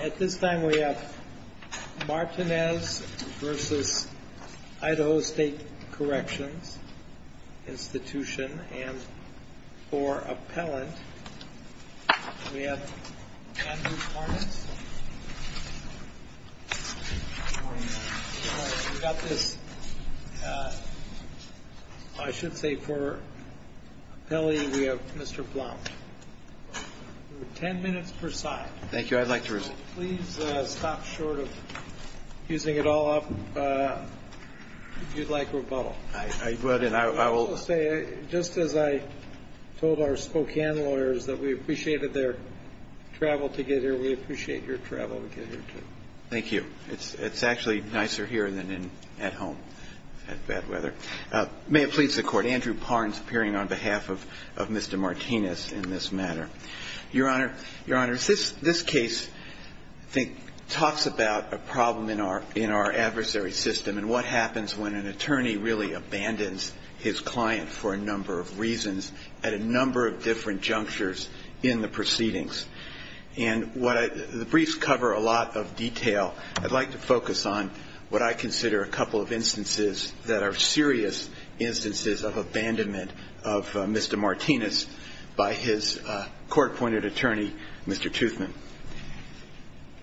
At this time, we have Martinez v. Idaho State Corrections Institution, and for appellant, we have Andrew Hormats. We've got this. I should say for appellee, we have Mr. Blount. Ten minutes per side. Thank you. I'd like to respond. Please stop short of fusing it all up if you'd like rebuttal. I will say, just as I told our Spokane lawyers that we appreciated their travel together, we appreciate your travel together, too. Thank you. It's actually nicer here than at home, in bad weather. May it please the Court. Andrew Parnes appearing on behalf of Mr. Martinez in this matter. Your Honor, Your Honor, this case, I think, talks about a problem in our adversary system and what happens when an attorney really abandons his client for a number of reasons at a number of different junctures in the proceedings. And the briefs cover a lot of detail. I'd like to focus on what I consider a couple of instances that are serious instances of abandonment of Mr. Martinez by his court-appointed attorney, Mr. Toothman.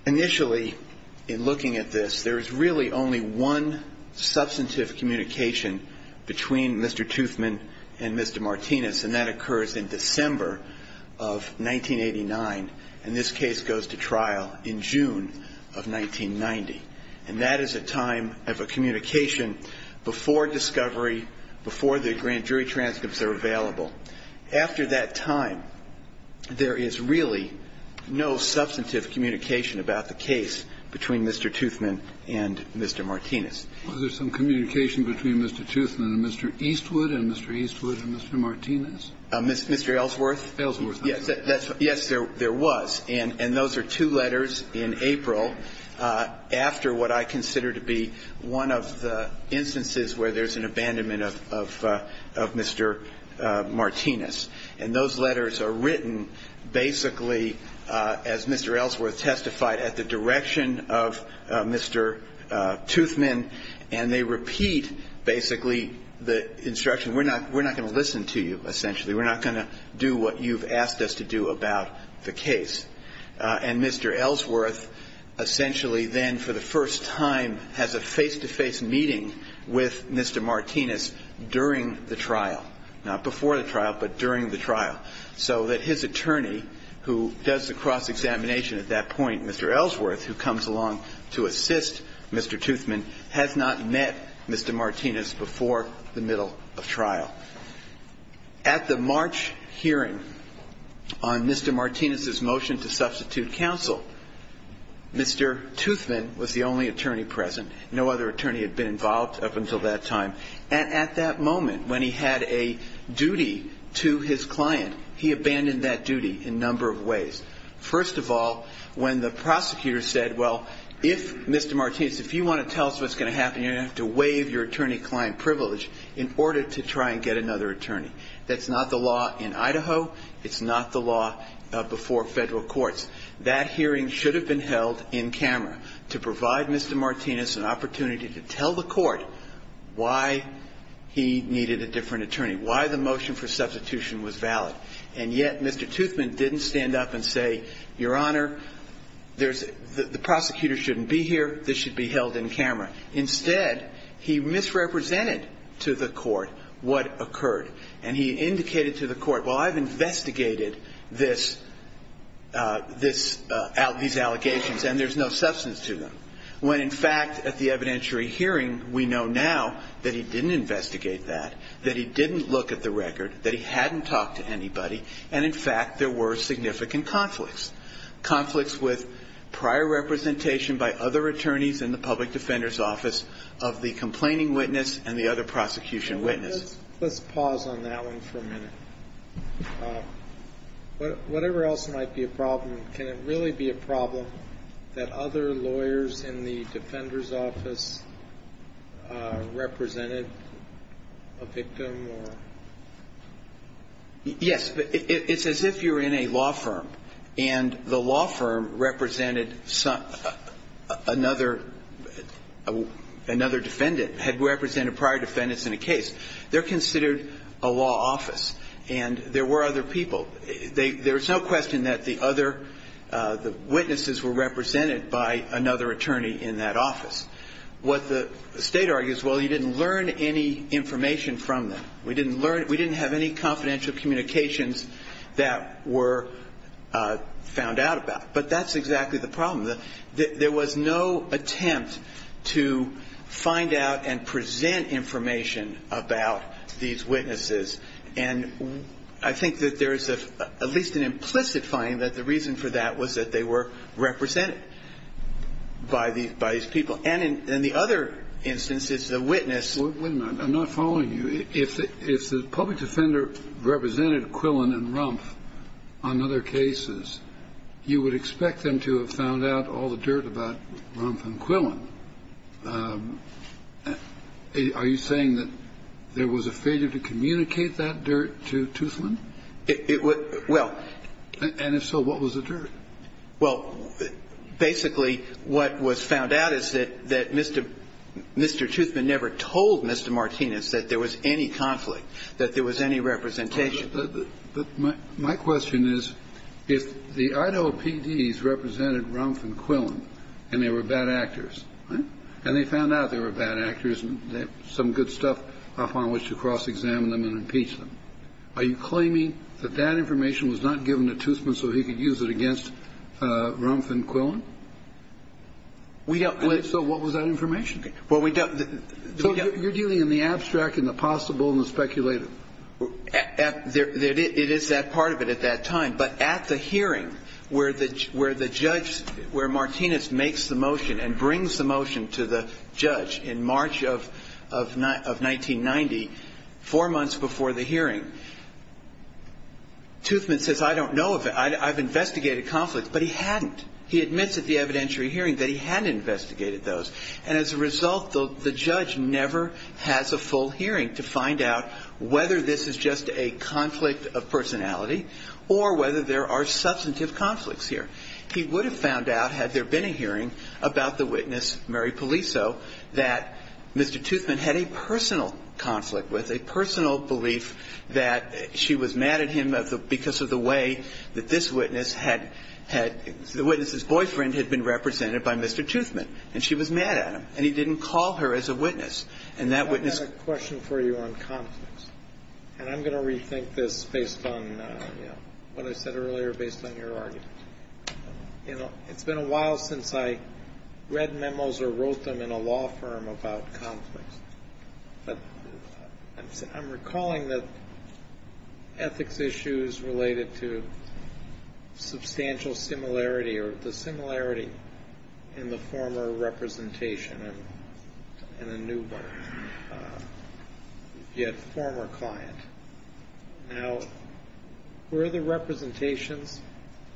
Initially, in looking at this, there is really only one substantive communication between Mr. Toothman and Mr. Martinez, and that occurs in December of 1989. And this case goes to trial in June of 1990. And that is a time of a communication before discovery, before the grand jury transcripts are available. After that time, there is really no substantive communication about the case between Mr. Toothman and Mr. Martinez. Was there some communication between Mr. Toothman and Mr. Eastwood and Mr. Eastwood and Mr. Martinez? Mr. Ellsworth? Ellsworth. Yes, there was. And those are two letters in April after what I consider to be one of the instances where there's an abandonment of Mr. Martinez. And those letters are written basically, as Mr. Ellsworth testified, at the direction of Mr. Toothman. And they repeat basically the instruction, we're not going to listen to you, essentially. We're not going to do what you've asked us to do about the case. And Mr. Ellsworth essentially then for the first time has a face-to-face meeting with Mr. Martinez during the trial. Not before the trial, but during the trial. So that his attorney, who does the cross-examination at that point, Mr. Ellsworth, who comes along to assist Mr. Toothman, has not met Mr. Martinez before the middle of trial. At the March hearing on Mr. Martinez's motion to substitute counsel, Mr. Toothman was the only attorney present. No other attorney had been involved up until that time. And at that moment, when he had a duty to his client, he abandoned that duty in a number of ways. First of all, when the prosecutor said, well, if Mr. Martinez, if you want to tell us what's going to happen, you're going to have to waive your attorney-client privilege in order to try and get another attorney. That's not the law in Idaho. It's not the law before federal courts. That hearing should have been held in camera to provide Mr. Martinez an opportunity to tell the court why he needed a different attorney, why the motion for substitution was valid. And yet Mr. Toothman didn't stand up and say, Your Honor, the prosecutor shouldn't be here. This should be held in camera. Instead, he misrepresented to the court what occurred. And he indicated to the court, well, I've investigated these allegations, and there's no substance to them. When, in fact, at the evidentiary hearing, we know now that he didn't investigate that, that he didn't look at the record, that he hadn't talked to anybody, and, in fact, there were significant conflicts, conflicts with prior representation by other attorneys in the public defender's office of the complaining witness and the other prosecution witness. Let's pause on that one for a minute. Whatever else might be a problem, can it really be a problem that other lawyers in the defender's office represented a victim? Yes. It's as if you're in a law firm, and the law firm represented another defendant, had represented prior defendants in a case. They're considered a law office, and there were other people. There's no question that the other witnesses were represented by another attorney in that office. What the State argues, well, you didn't learn any information from them. We didn't learn we didn't have any confidential communications that were found out about. But that's exactly the problem. There was no attempt to find out and present information about these witnesses. And I think that there is at least an implicit finding that the reason for that was that they were represented by these people. And in the other instance, it's the witness. Wait a minute. I'm not following you. If the public defender represented Quillen and Rumpf on other cases, you would expect them to have found out all the dirt about Rumpf and Quillen. Are you saying that there was a failure to communicate that dirt to Toothland? Well. And if so, what was the dirt? Well, basically, what was found out is that Mr. Toothman never told Mr. Martinez that there was any conflict, that there was any representation. My question is, if the Idaho PDs represented Rumpf and Quillen and they were bad actors, and they found out they were bad actors and some good stuff upon which to cross-examine them and impeach them, are you claiming that that information was not given to Toothman so he could use it against Rumpf and Quillen? We don't. So what was that information? Well, we don't. So you're dealing in the abstract and the possible and the speculative. It is that part of it at that time. But at the hearing where the judge, where Martinez makes the motion and brings the motion to the judge in March of 1990, four months before the hearing, Toothman says, I don't know. I've investigated conflicts. But he hadn't. He admits at the evidentiary hearing that he hadn't investigated those. And as a result, the judge never has a full hearing to find out whether this is just a conflict of personality or whether there are substantive conflicts here. He would have found out had there been a hearing about the witness, Mary Poliso, that Mr. Toothman had a personal conflict with, a personal belief that she was mad at him because of the way that this witness had the witness's boyfriend had been represented by Mr. Toothman. And she was mad at him. And he didn't call her as a witness. And that witness ---- I have a question for you on conflicts. And I'm going to rethink this based on what I said earlier, based on your argument. It's been a while since I read memos or wrote them in a law firm about conflicts. But I'm recalling that ethics issues related to substantial similarity or the similarity in the former representation and a new one, yet former client. Now, were the representations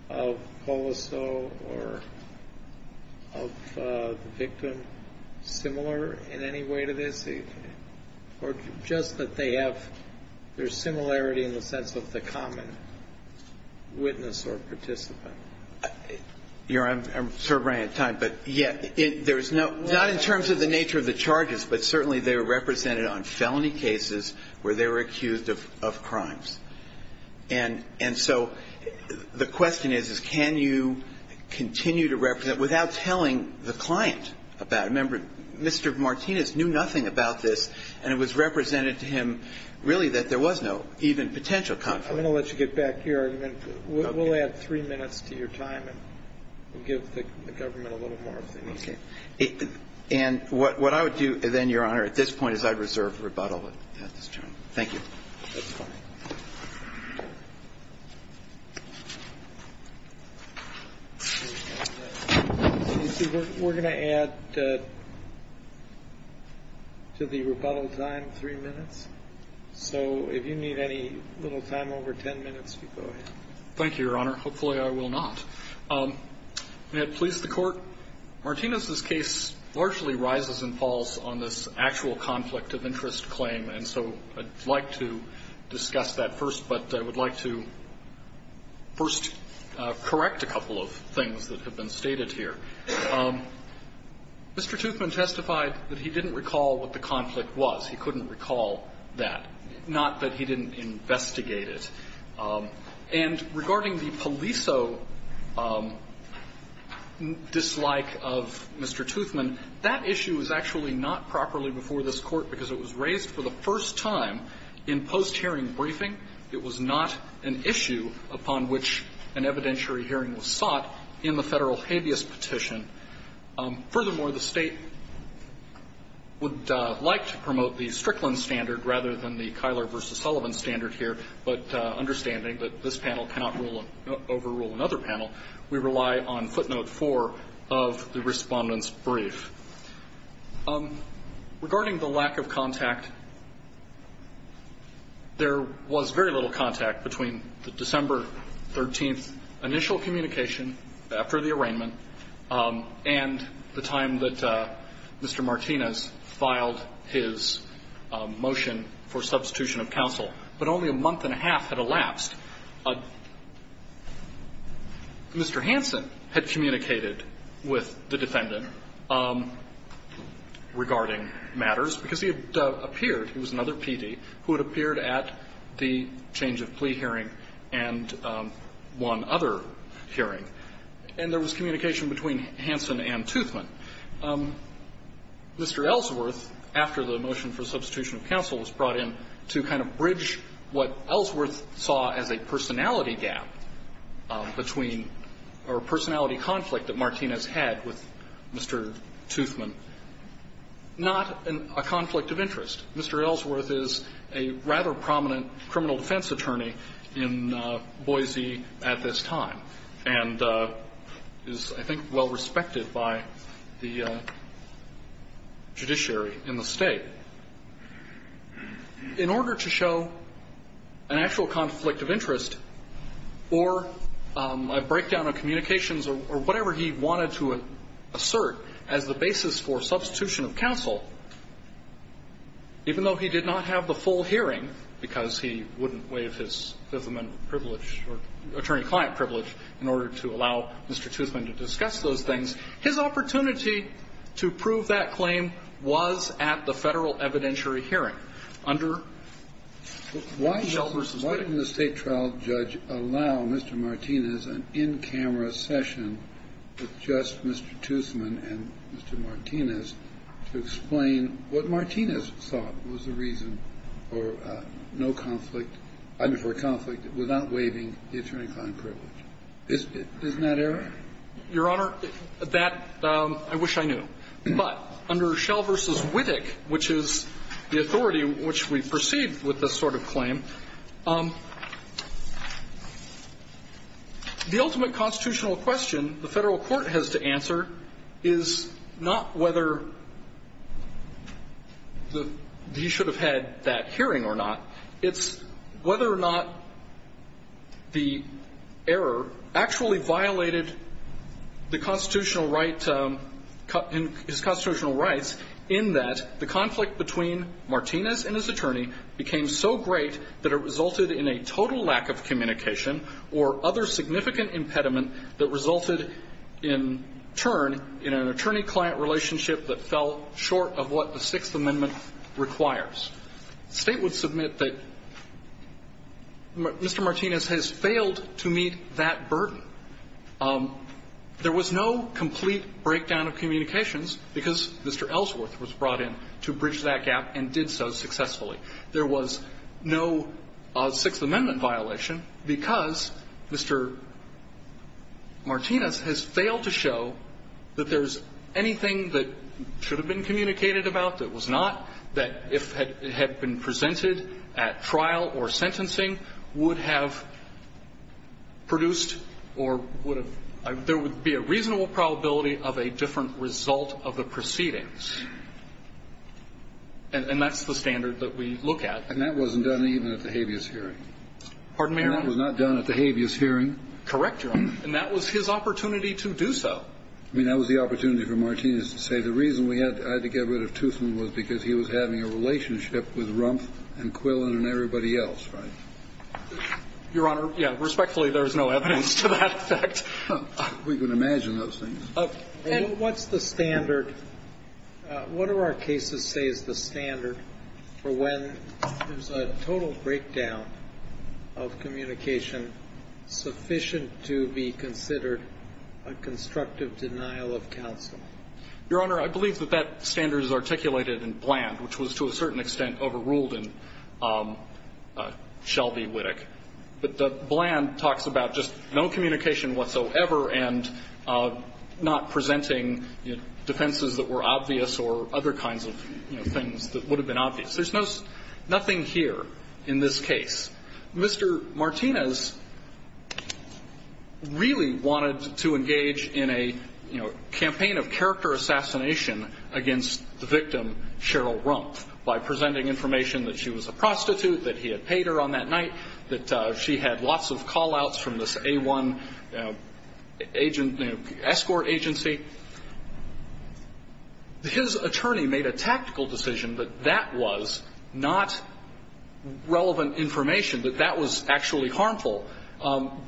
of Poliso or of the victim similar in any way to this? Or just that they have their similarity in the sense of the common witness or participant? You know, I'm sort of running out of time. But, yeah, there's no ---- not in terms of the nature of the charges, but certainly they were represented on felony cases where they were accused of crimes. And so the question is, is can you continue to represent without telling the client about it? And I remember Mr. Martinez knew nothing about this, and it was represented to him, really, that there was no even potential conflict. I'm going to let you get back to your argument. We'll add three minutes to your time and we'll give the government a little more if they need it. Okay. And what I would do then, Your Honor, at this point is I'd reserve rebuttal at this time. Thank you. That's fine. We're going to add to the rebuttal time three minutes. So if you need any little time over ten minutes, you go ahead. Thank you, Your Honor. Hopefully I will not. May it please the Court, Martinez's case largely rises and falls on this actual conflict of interest claim. And so I'd like to discuss that first, but I would like to first correct a couple of things that have been stated here. Mr. Toothman testified that he didn't recall what the conflict was. He couldn't recall that. Not that he didn't investigate it. And regarding the poliso dislike of Mr. Toothman, that issue is actually not properly before this Court because it was raised for the first time in post-hearing briefing. It was not an issue upon which an evidentiary hearing was sought in the Federal habeas petition. Furthermore, the State would like to promote the Strickland standard rather than the Kyler v. Sullivan standard here, but understanding that this panel cannot overrule another panel, we rely on footnote four of the Respondent's brief. Regarding the lack of contact, there was very little contact between the December 13th initial communication after the arraignment and the time that Mr. Martinez filed his motion for substitution of counsel. But only a month and a half had elapsed. Mr. Hansen had communicated with the defendant regarding matters because he had appeared he was another PD who had appeared at the change of plea hearing and one other hearing. And there was communication between Hansen and Toothman. Mr. Ellsworth, after the motion for substitution of counsel was brought in, to kind of bridge what Ellsworth saw as a personality gap between or a personality conflict that Martinez had with Mr. Toothman, not a conflict of interest. Mr. Ellsworth is a rather prominent criminal defense attorney in Boise at this time and is, I think, well respected by the judiciary in the State. In order to show an actual conflict of interest or a breakdown of communications or whatever he wanted to assert as the basis for substitution of counsel, even though he did not have the full hearing, because he wouldn't waive his Fifth Amendment privilege or attorney-client privilege in order to allow Mr. Toothman to discuss those things, his opportunity to prove that claim was at the Federal evidentiary hearing under Shell v. Wig. Kennedy. Why didn't the State trial judge allow Mr. Martinez an in-camera session with just Mr. Toothman and Mr. Martinez to explain what Martinez thought was the reason for no conflict, for a conflict without waiving the attorney-client privilege? Isn't that error? Your Honor, that, I wish I knew. But under Shell v. Wittig, which is the authority which we perceive with this sort of claim, the ultimate constitutional question the Federal court has to answer is not whether he should have had that hearing or not. It's whether or not the error actually violated the Federal judgment. The constitutional right, his constitutional rights, in that the conflict between Martinez and his attorney became so great that it resulted in a total lack of communication or other significant impediment that resulted, in turn, in an attorney-client relationship that fell short of what the Sixth Amendment requires. The State would submit that Mr. Martinez has failed to meet that burden. There was no complete breakdown of communications because Mr. Ellsworth was brought in to bridge that gap and did so successfully. There was no Sixth Amendment violation because Mr. Martinez has failed to show that there's anything that should have been communicated about that was not, that if had been presented at trial or sentencing, would have produced or would have, there would be a reasonable probability of a different result of the proceedings. And that's the standard that we look at. And that wasn't done even at the habeas hearing. Pardon me, Your Honor? And that was not done at the habeas hearing. Correct, Your Honor. And that was his opportunity to do so. I mean, that was the opportunity for Martinez to say the reason we had to get rid of Toothman was because he was having a relationship with Rumpf and Quillen and everybody else, right? Your Honor, yeah. Respectfully, there's no evidence to that effect. We can imagine those things. And what's the standard? What do our cases say is the standard for when there's a total breakdown of communication sufficient to be considered a constructive denial of counsel? Your Honor, I believe that that standard is articulated in Bland, which was to a certain extent overruled in Shelby-Wittig. But the Bland talks about just no communication whatsoever and not presenting defenses that were obvious or other kinds of things that would have been obvious. There's nothing here in this case. Mr. Martinez really wanted to engage in a, you know, campaign of character assassination against the victim, Cheryl Rumpf, by presenting information that she was a prostitute, that he had paid her on that night, that she had lots of call-outs from this A1 agent, you know, escort agency. His attorney made a tactical decision that that was not relevant information that that was actually harmful.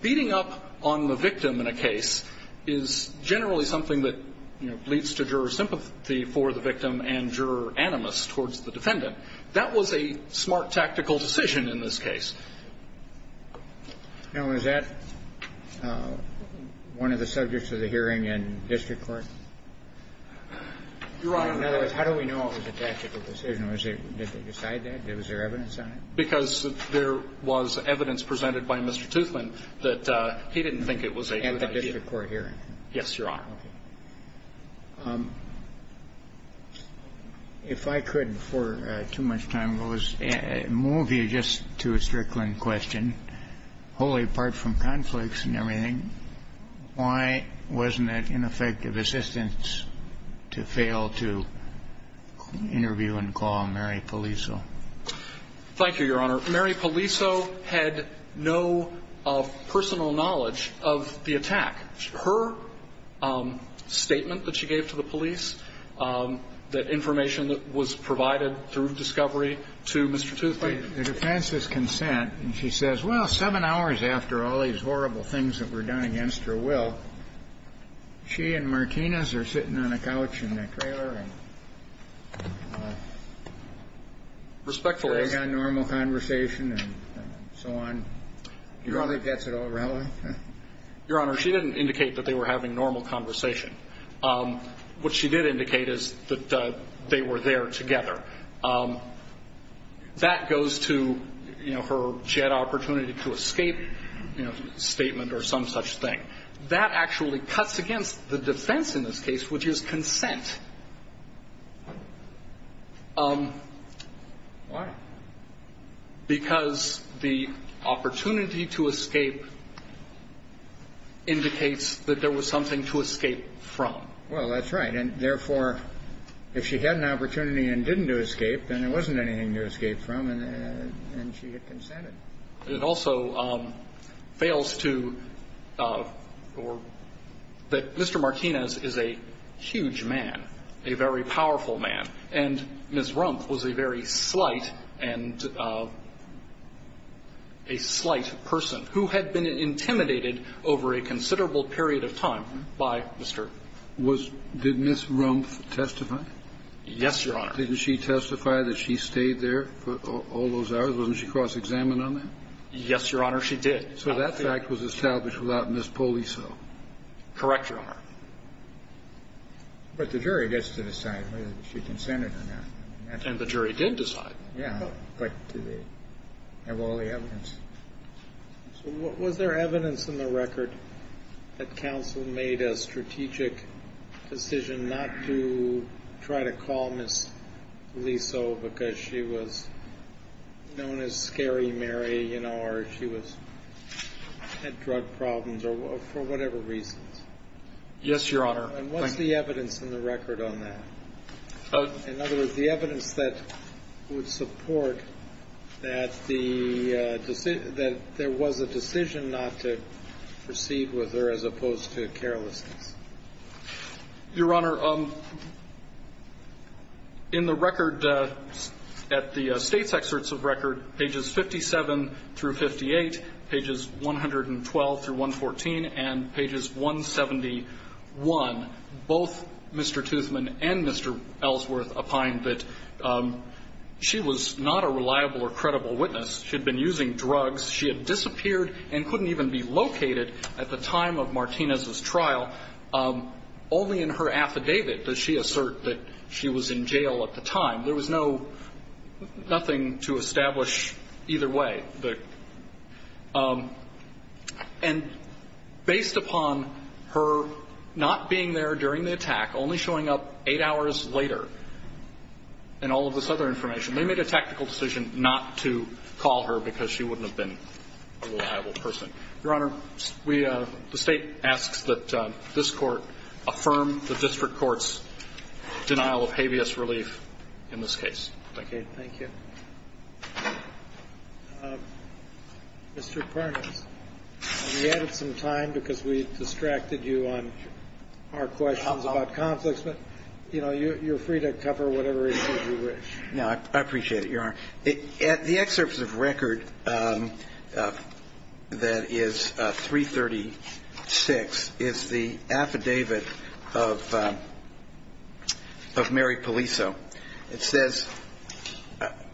Beating up on the victim in a case is generally something that, you know, leads to juror sympathy for the victim and juror animus towards the defendant. That was a smart tactical decision in this case. Now, is that one of the subjects of the hearing in district court? Your Honor. In other words, how do we know it was a tactical decision? Did they decide that? Was there evidence on it? Because there was evidence presented by Mr. Toothland that he didn't think it was a good idea. At the district court hearing? Yes, Your Honor. Okay. If I could, before too much time goes, move you just to a Strickland question. Wholly apart from conflicts and everything, why wasn't it ineffective assistance to fail to interview and call Mary Polizzo? Thank you, Your Honor. Mary Polizzo had no personal knowledge of the attack. Her statement that she gave to the police, the information that was provided through discovery to Mr. Toothland. The defense's consent, and she says, well, seven hours after all these horrible things that were done against her will, she and Martinez are sitting on a couch in that trailer and having a normal conversation and so on. Your Honor, she didn't indicate that they were having normal conversation. What she did indicate is that they were there together. That goes to, you know, she had opportunity to escape statement or some such thing. That actually cuts against the defense in this case, which is consent. Why? Because the opportunity to escape indicates that there was something to escape from. Well, that's right. And, therefore, if she had an opportunity and didn't do escape, then there wasn't anything to escape from, and she had consented. It also fails to or that Mr. Martinez is a huge man, a very powerful man. And Ms. Rumpf was a very slight and a slight person who had been intimidated over a considerable period of time by Mr. ---- Did Ms. Rumpf testify? Yes, Your Honor. Didn't she testify that she stayed there for all those hours? Wasn't she cross-examined on that? Yes, Your Honor. She did. So that fact was established without Ms. Poliso. Correct, Your Honor. But the jury gets to decide whether she consented or not. And the jury did decide. Yeah. But do they have all the evidence? So was there evidence in the record that counsel made a strategic decision not to try to call Ms. Poliso because she was known as Scary Mary, you know, or she had drug problems or for whatever reasons? Yes, Your Honor. And what's the evidence in the record on that? In other words, the evidence that would support that there was a decision not to proceed with her as opposed to carelessness. Your Honor, in the record at the State's excerpts of record, pages 57 through 58, pages 112 through 114, and pages 171, both Mr. Toothman and Mr. Ellsworth opine that she was not a reliable or credible witness. She had been using drugs. She had disappeared and couldn't even be located at the time of Martinez's death. Only in her affidavit does she assert that she was in jail at the time. There was no – nothing to establish either way. And based upon her not being there during the attack, only showing up eight hours later, and all of this other information, they made a tactical decision not to call her because she wouldn't have been a reliable person. Your Honor, we – the State asks that this Court affirm the district court's denial of habeas relief in this case. Thank you. Thank you. Mr. Parnas, we added some time because we distracted you on our questions about conflicts, but, you know, you're free to cover whatever issues you wish. No, I appreciate it, Your Honor. The excerpt of the record that is 336 is the affidavit of Mary Poliso. It says,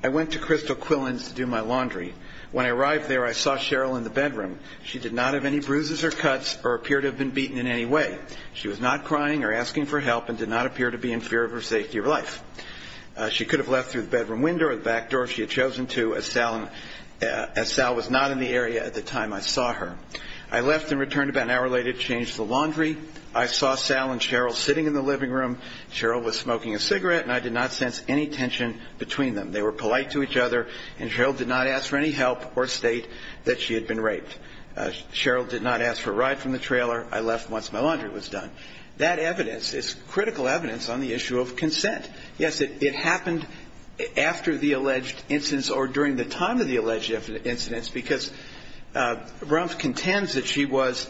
I went to Crystal Quillins to do my laundry. When I arrived there, I saw Cheryl in the bedroom. She did not have any bruises or cuts or appear to have been beaten in any way. She was not crying or asking for help and did not appear to be in fear of her safety or life. She could have left through the bedroom window or the back door if she had chosen to, as Sal was not in the area at the time I saw her. I left and returned about an hour later to change the laundry. I saw Sal and Cheryl sitting in the living room. Cheryl was smoking a cigarette, and I did not sense any tension between them. They were polite to each other, and Cheryl did not ask for any help or state that she had been raped. Cheryl did not ask for a ride from the trailer. I left once my laundry was done. I was not able to get a hold of her. I did not know the name of the person who was at the scene of the incident. That evidence is critical evidence on the issue of consent. Yes, it happened after the alleged incidents or during the time of the alleged incidents because Rumpf contends that she was,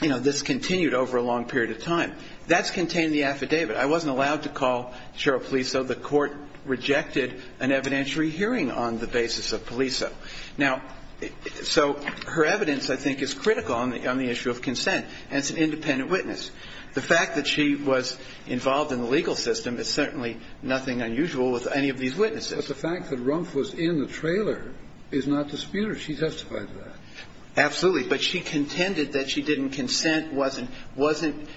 you know, discontinued over a long period of time. That's contained in the affidavit. I wasn't allowed to call Cheryl Poliso. So the court rejected an evidentiary hearing on the basis of Poliso. Now, so her evidence, I think, is critical on the issue of consent. And it's an independent witness. The fact that she was involved in the legal system is certainly nothing unusual with any of these witnesses. But the fact that Rumpf was in the trailer is not disputed. She testified to that. Absolutely. But she contended that she didn't consent, wasn't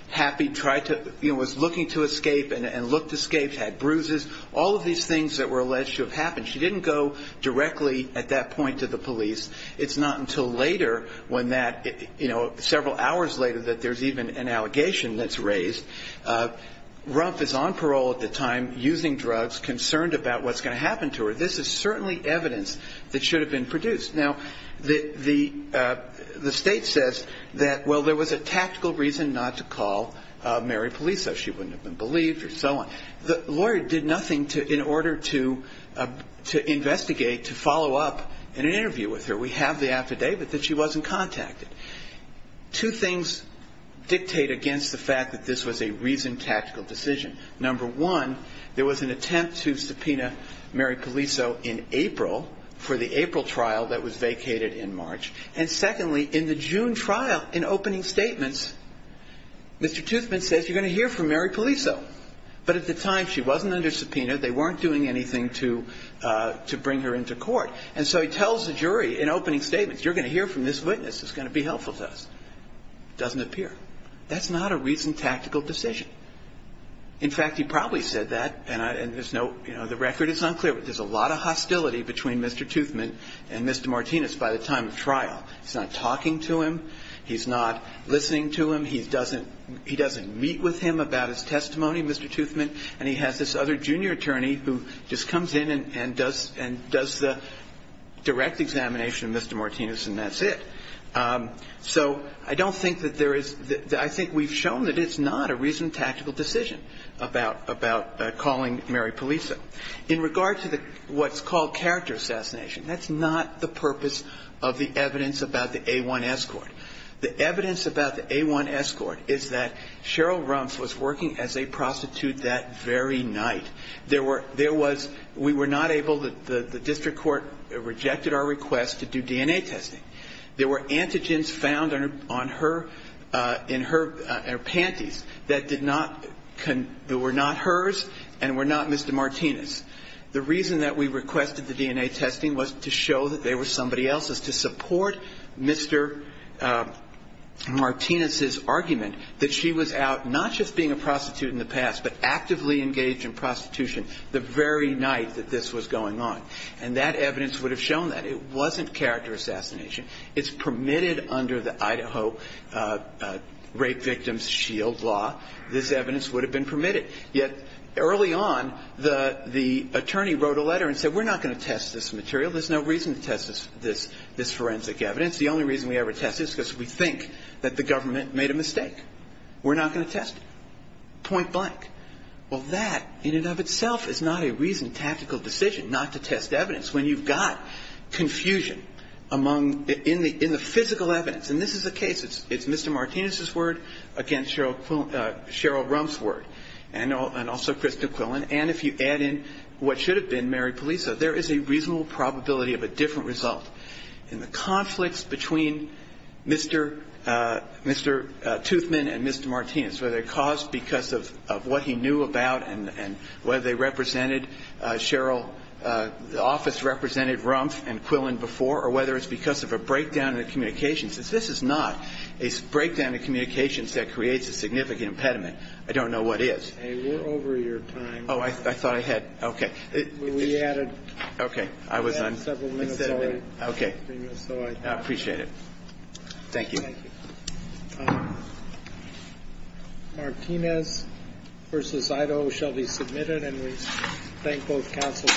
happy, tried to, you know, was looking to escape and looked to escape, had bruises, all of these things that were alleged to have happened. She didn't go directly at that point to the police. It's not until later when that, you know, several hours later that there's even an allegation that's raised. Rumpf is on parole at the time, using drugs, concerned about what's going to happen to her. This is certainly evidence that should have been produced. Now, the state says that, well, there was a tactical reason not to call Mary Poliso. She wouldn't have been believed or so on. The lawyer did nothing in order to investigate, to follow up in an interview with her. We have the affidavit that she wasn't contacted. Two things dictate against the fact that this was a reasoned tactical decision. Number one, there was an attempt to subpoena Mary Poliso in April for the April trial that was vacated in March. And secondly, in the June trial, in opening statements, Mr. Toothman says, you're going to hear from Mary Poliso. But at the time, she wasn't under subpoena. They weren't doing anything to bring her into court. And so he tells the jury in opening statements, you're going to hear from this witness. It's going to be helpful to us. Doesn't appear. That's not a reasoned tactical decision. In fact, he probably said that, and there's no, you know, the record is unclear, but there's a lot of hostility between Mr. Toothman and Mr. Martinez by the time of trial. He's not talking to him. He's not listening to him. He doesn't meet with him about his testimony, Mr. Toothman. And he has this other junior attorney who just comes in and does the direct examination of Mr. Martinez, and that's it. So I don't think that there is the – I think we've shown that it's not a reasoned tactical decision about calling Mary Poliso. In regard to what's called character assassination, that's not the purpose of the evidence about the A1S court. The evidence about the A1S court is that Cheryl Rumpf was working as a prostitute that very night. There was – we were not able – the district court rejected our request to do DNA testing. There were antigens found on her – in her panties that did not – that were not hers and were not Mr. Martinez. The reason that we requested the DNA testing was to show that they were somebody else's, to support Mr. Martinez's argument that she was out not just being a prostitute in the past, but actively engaged in prostitution the very night that this was going on. And that evidence would have shown that. It wasn't character assassination. It's permitted under the Idaho Rape Victims Shield Law. This evidence would have been permitted. Yet early on, the attorney wrote a letter and said we're not going to test this material. There's no reason to test this forensic evidence. The only reason we ever test it is because we think that the government made a mistake. We're not going to test it, point blank. Well, that in and of itself is not a reasoned tactical decision not to test evidence when you've got confusion among – in the physical evidence. And this is the case. It's Mr. Martinez's word against Cheryl Rumpf's word. And also Krista Quillen. And if you add in what should have been Mary Polizzo, there is a reasonable probability of a different result in the conflicts between Mr. – Mr. Toothman and Mr. Martinez, whether they're caused because of what he knew about and whether they represented Cheryl – the office represented Rumpf and Quillen before, or whether it's because of a breakdown in the communications. This is not a breakdown in communications that creates a significant impediment. I don't know what is. Okay. We're over your time. Oh, I thought I had – okay. We added – Okay. I was on – We had several minutes already. Okay. So I – I appreciate it. Thank you. Thank you. Martinez v. Idaho shall be submitted. And we thank both counsels.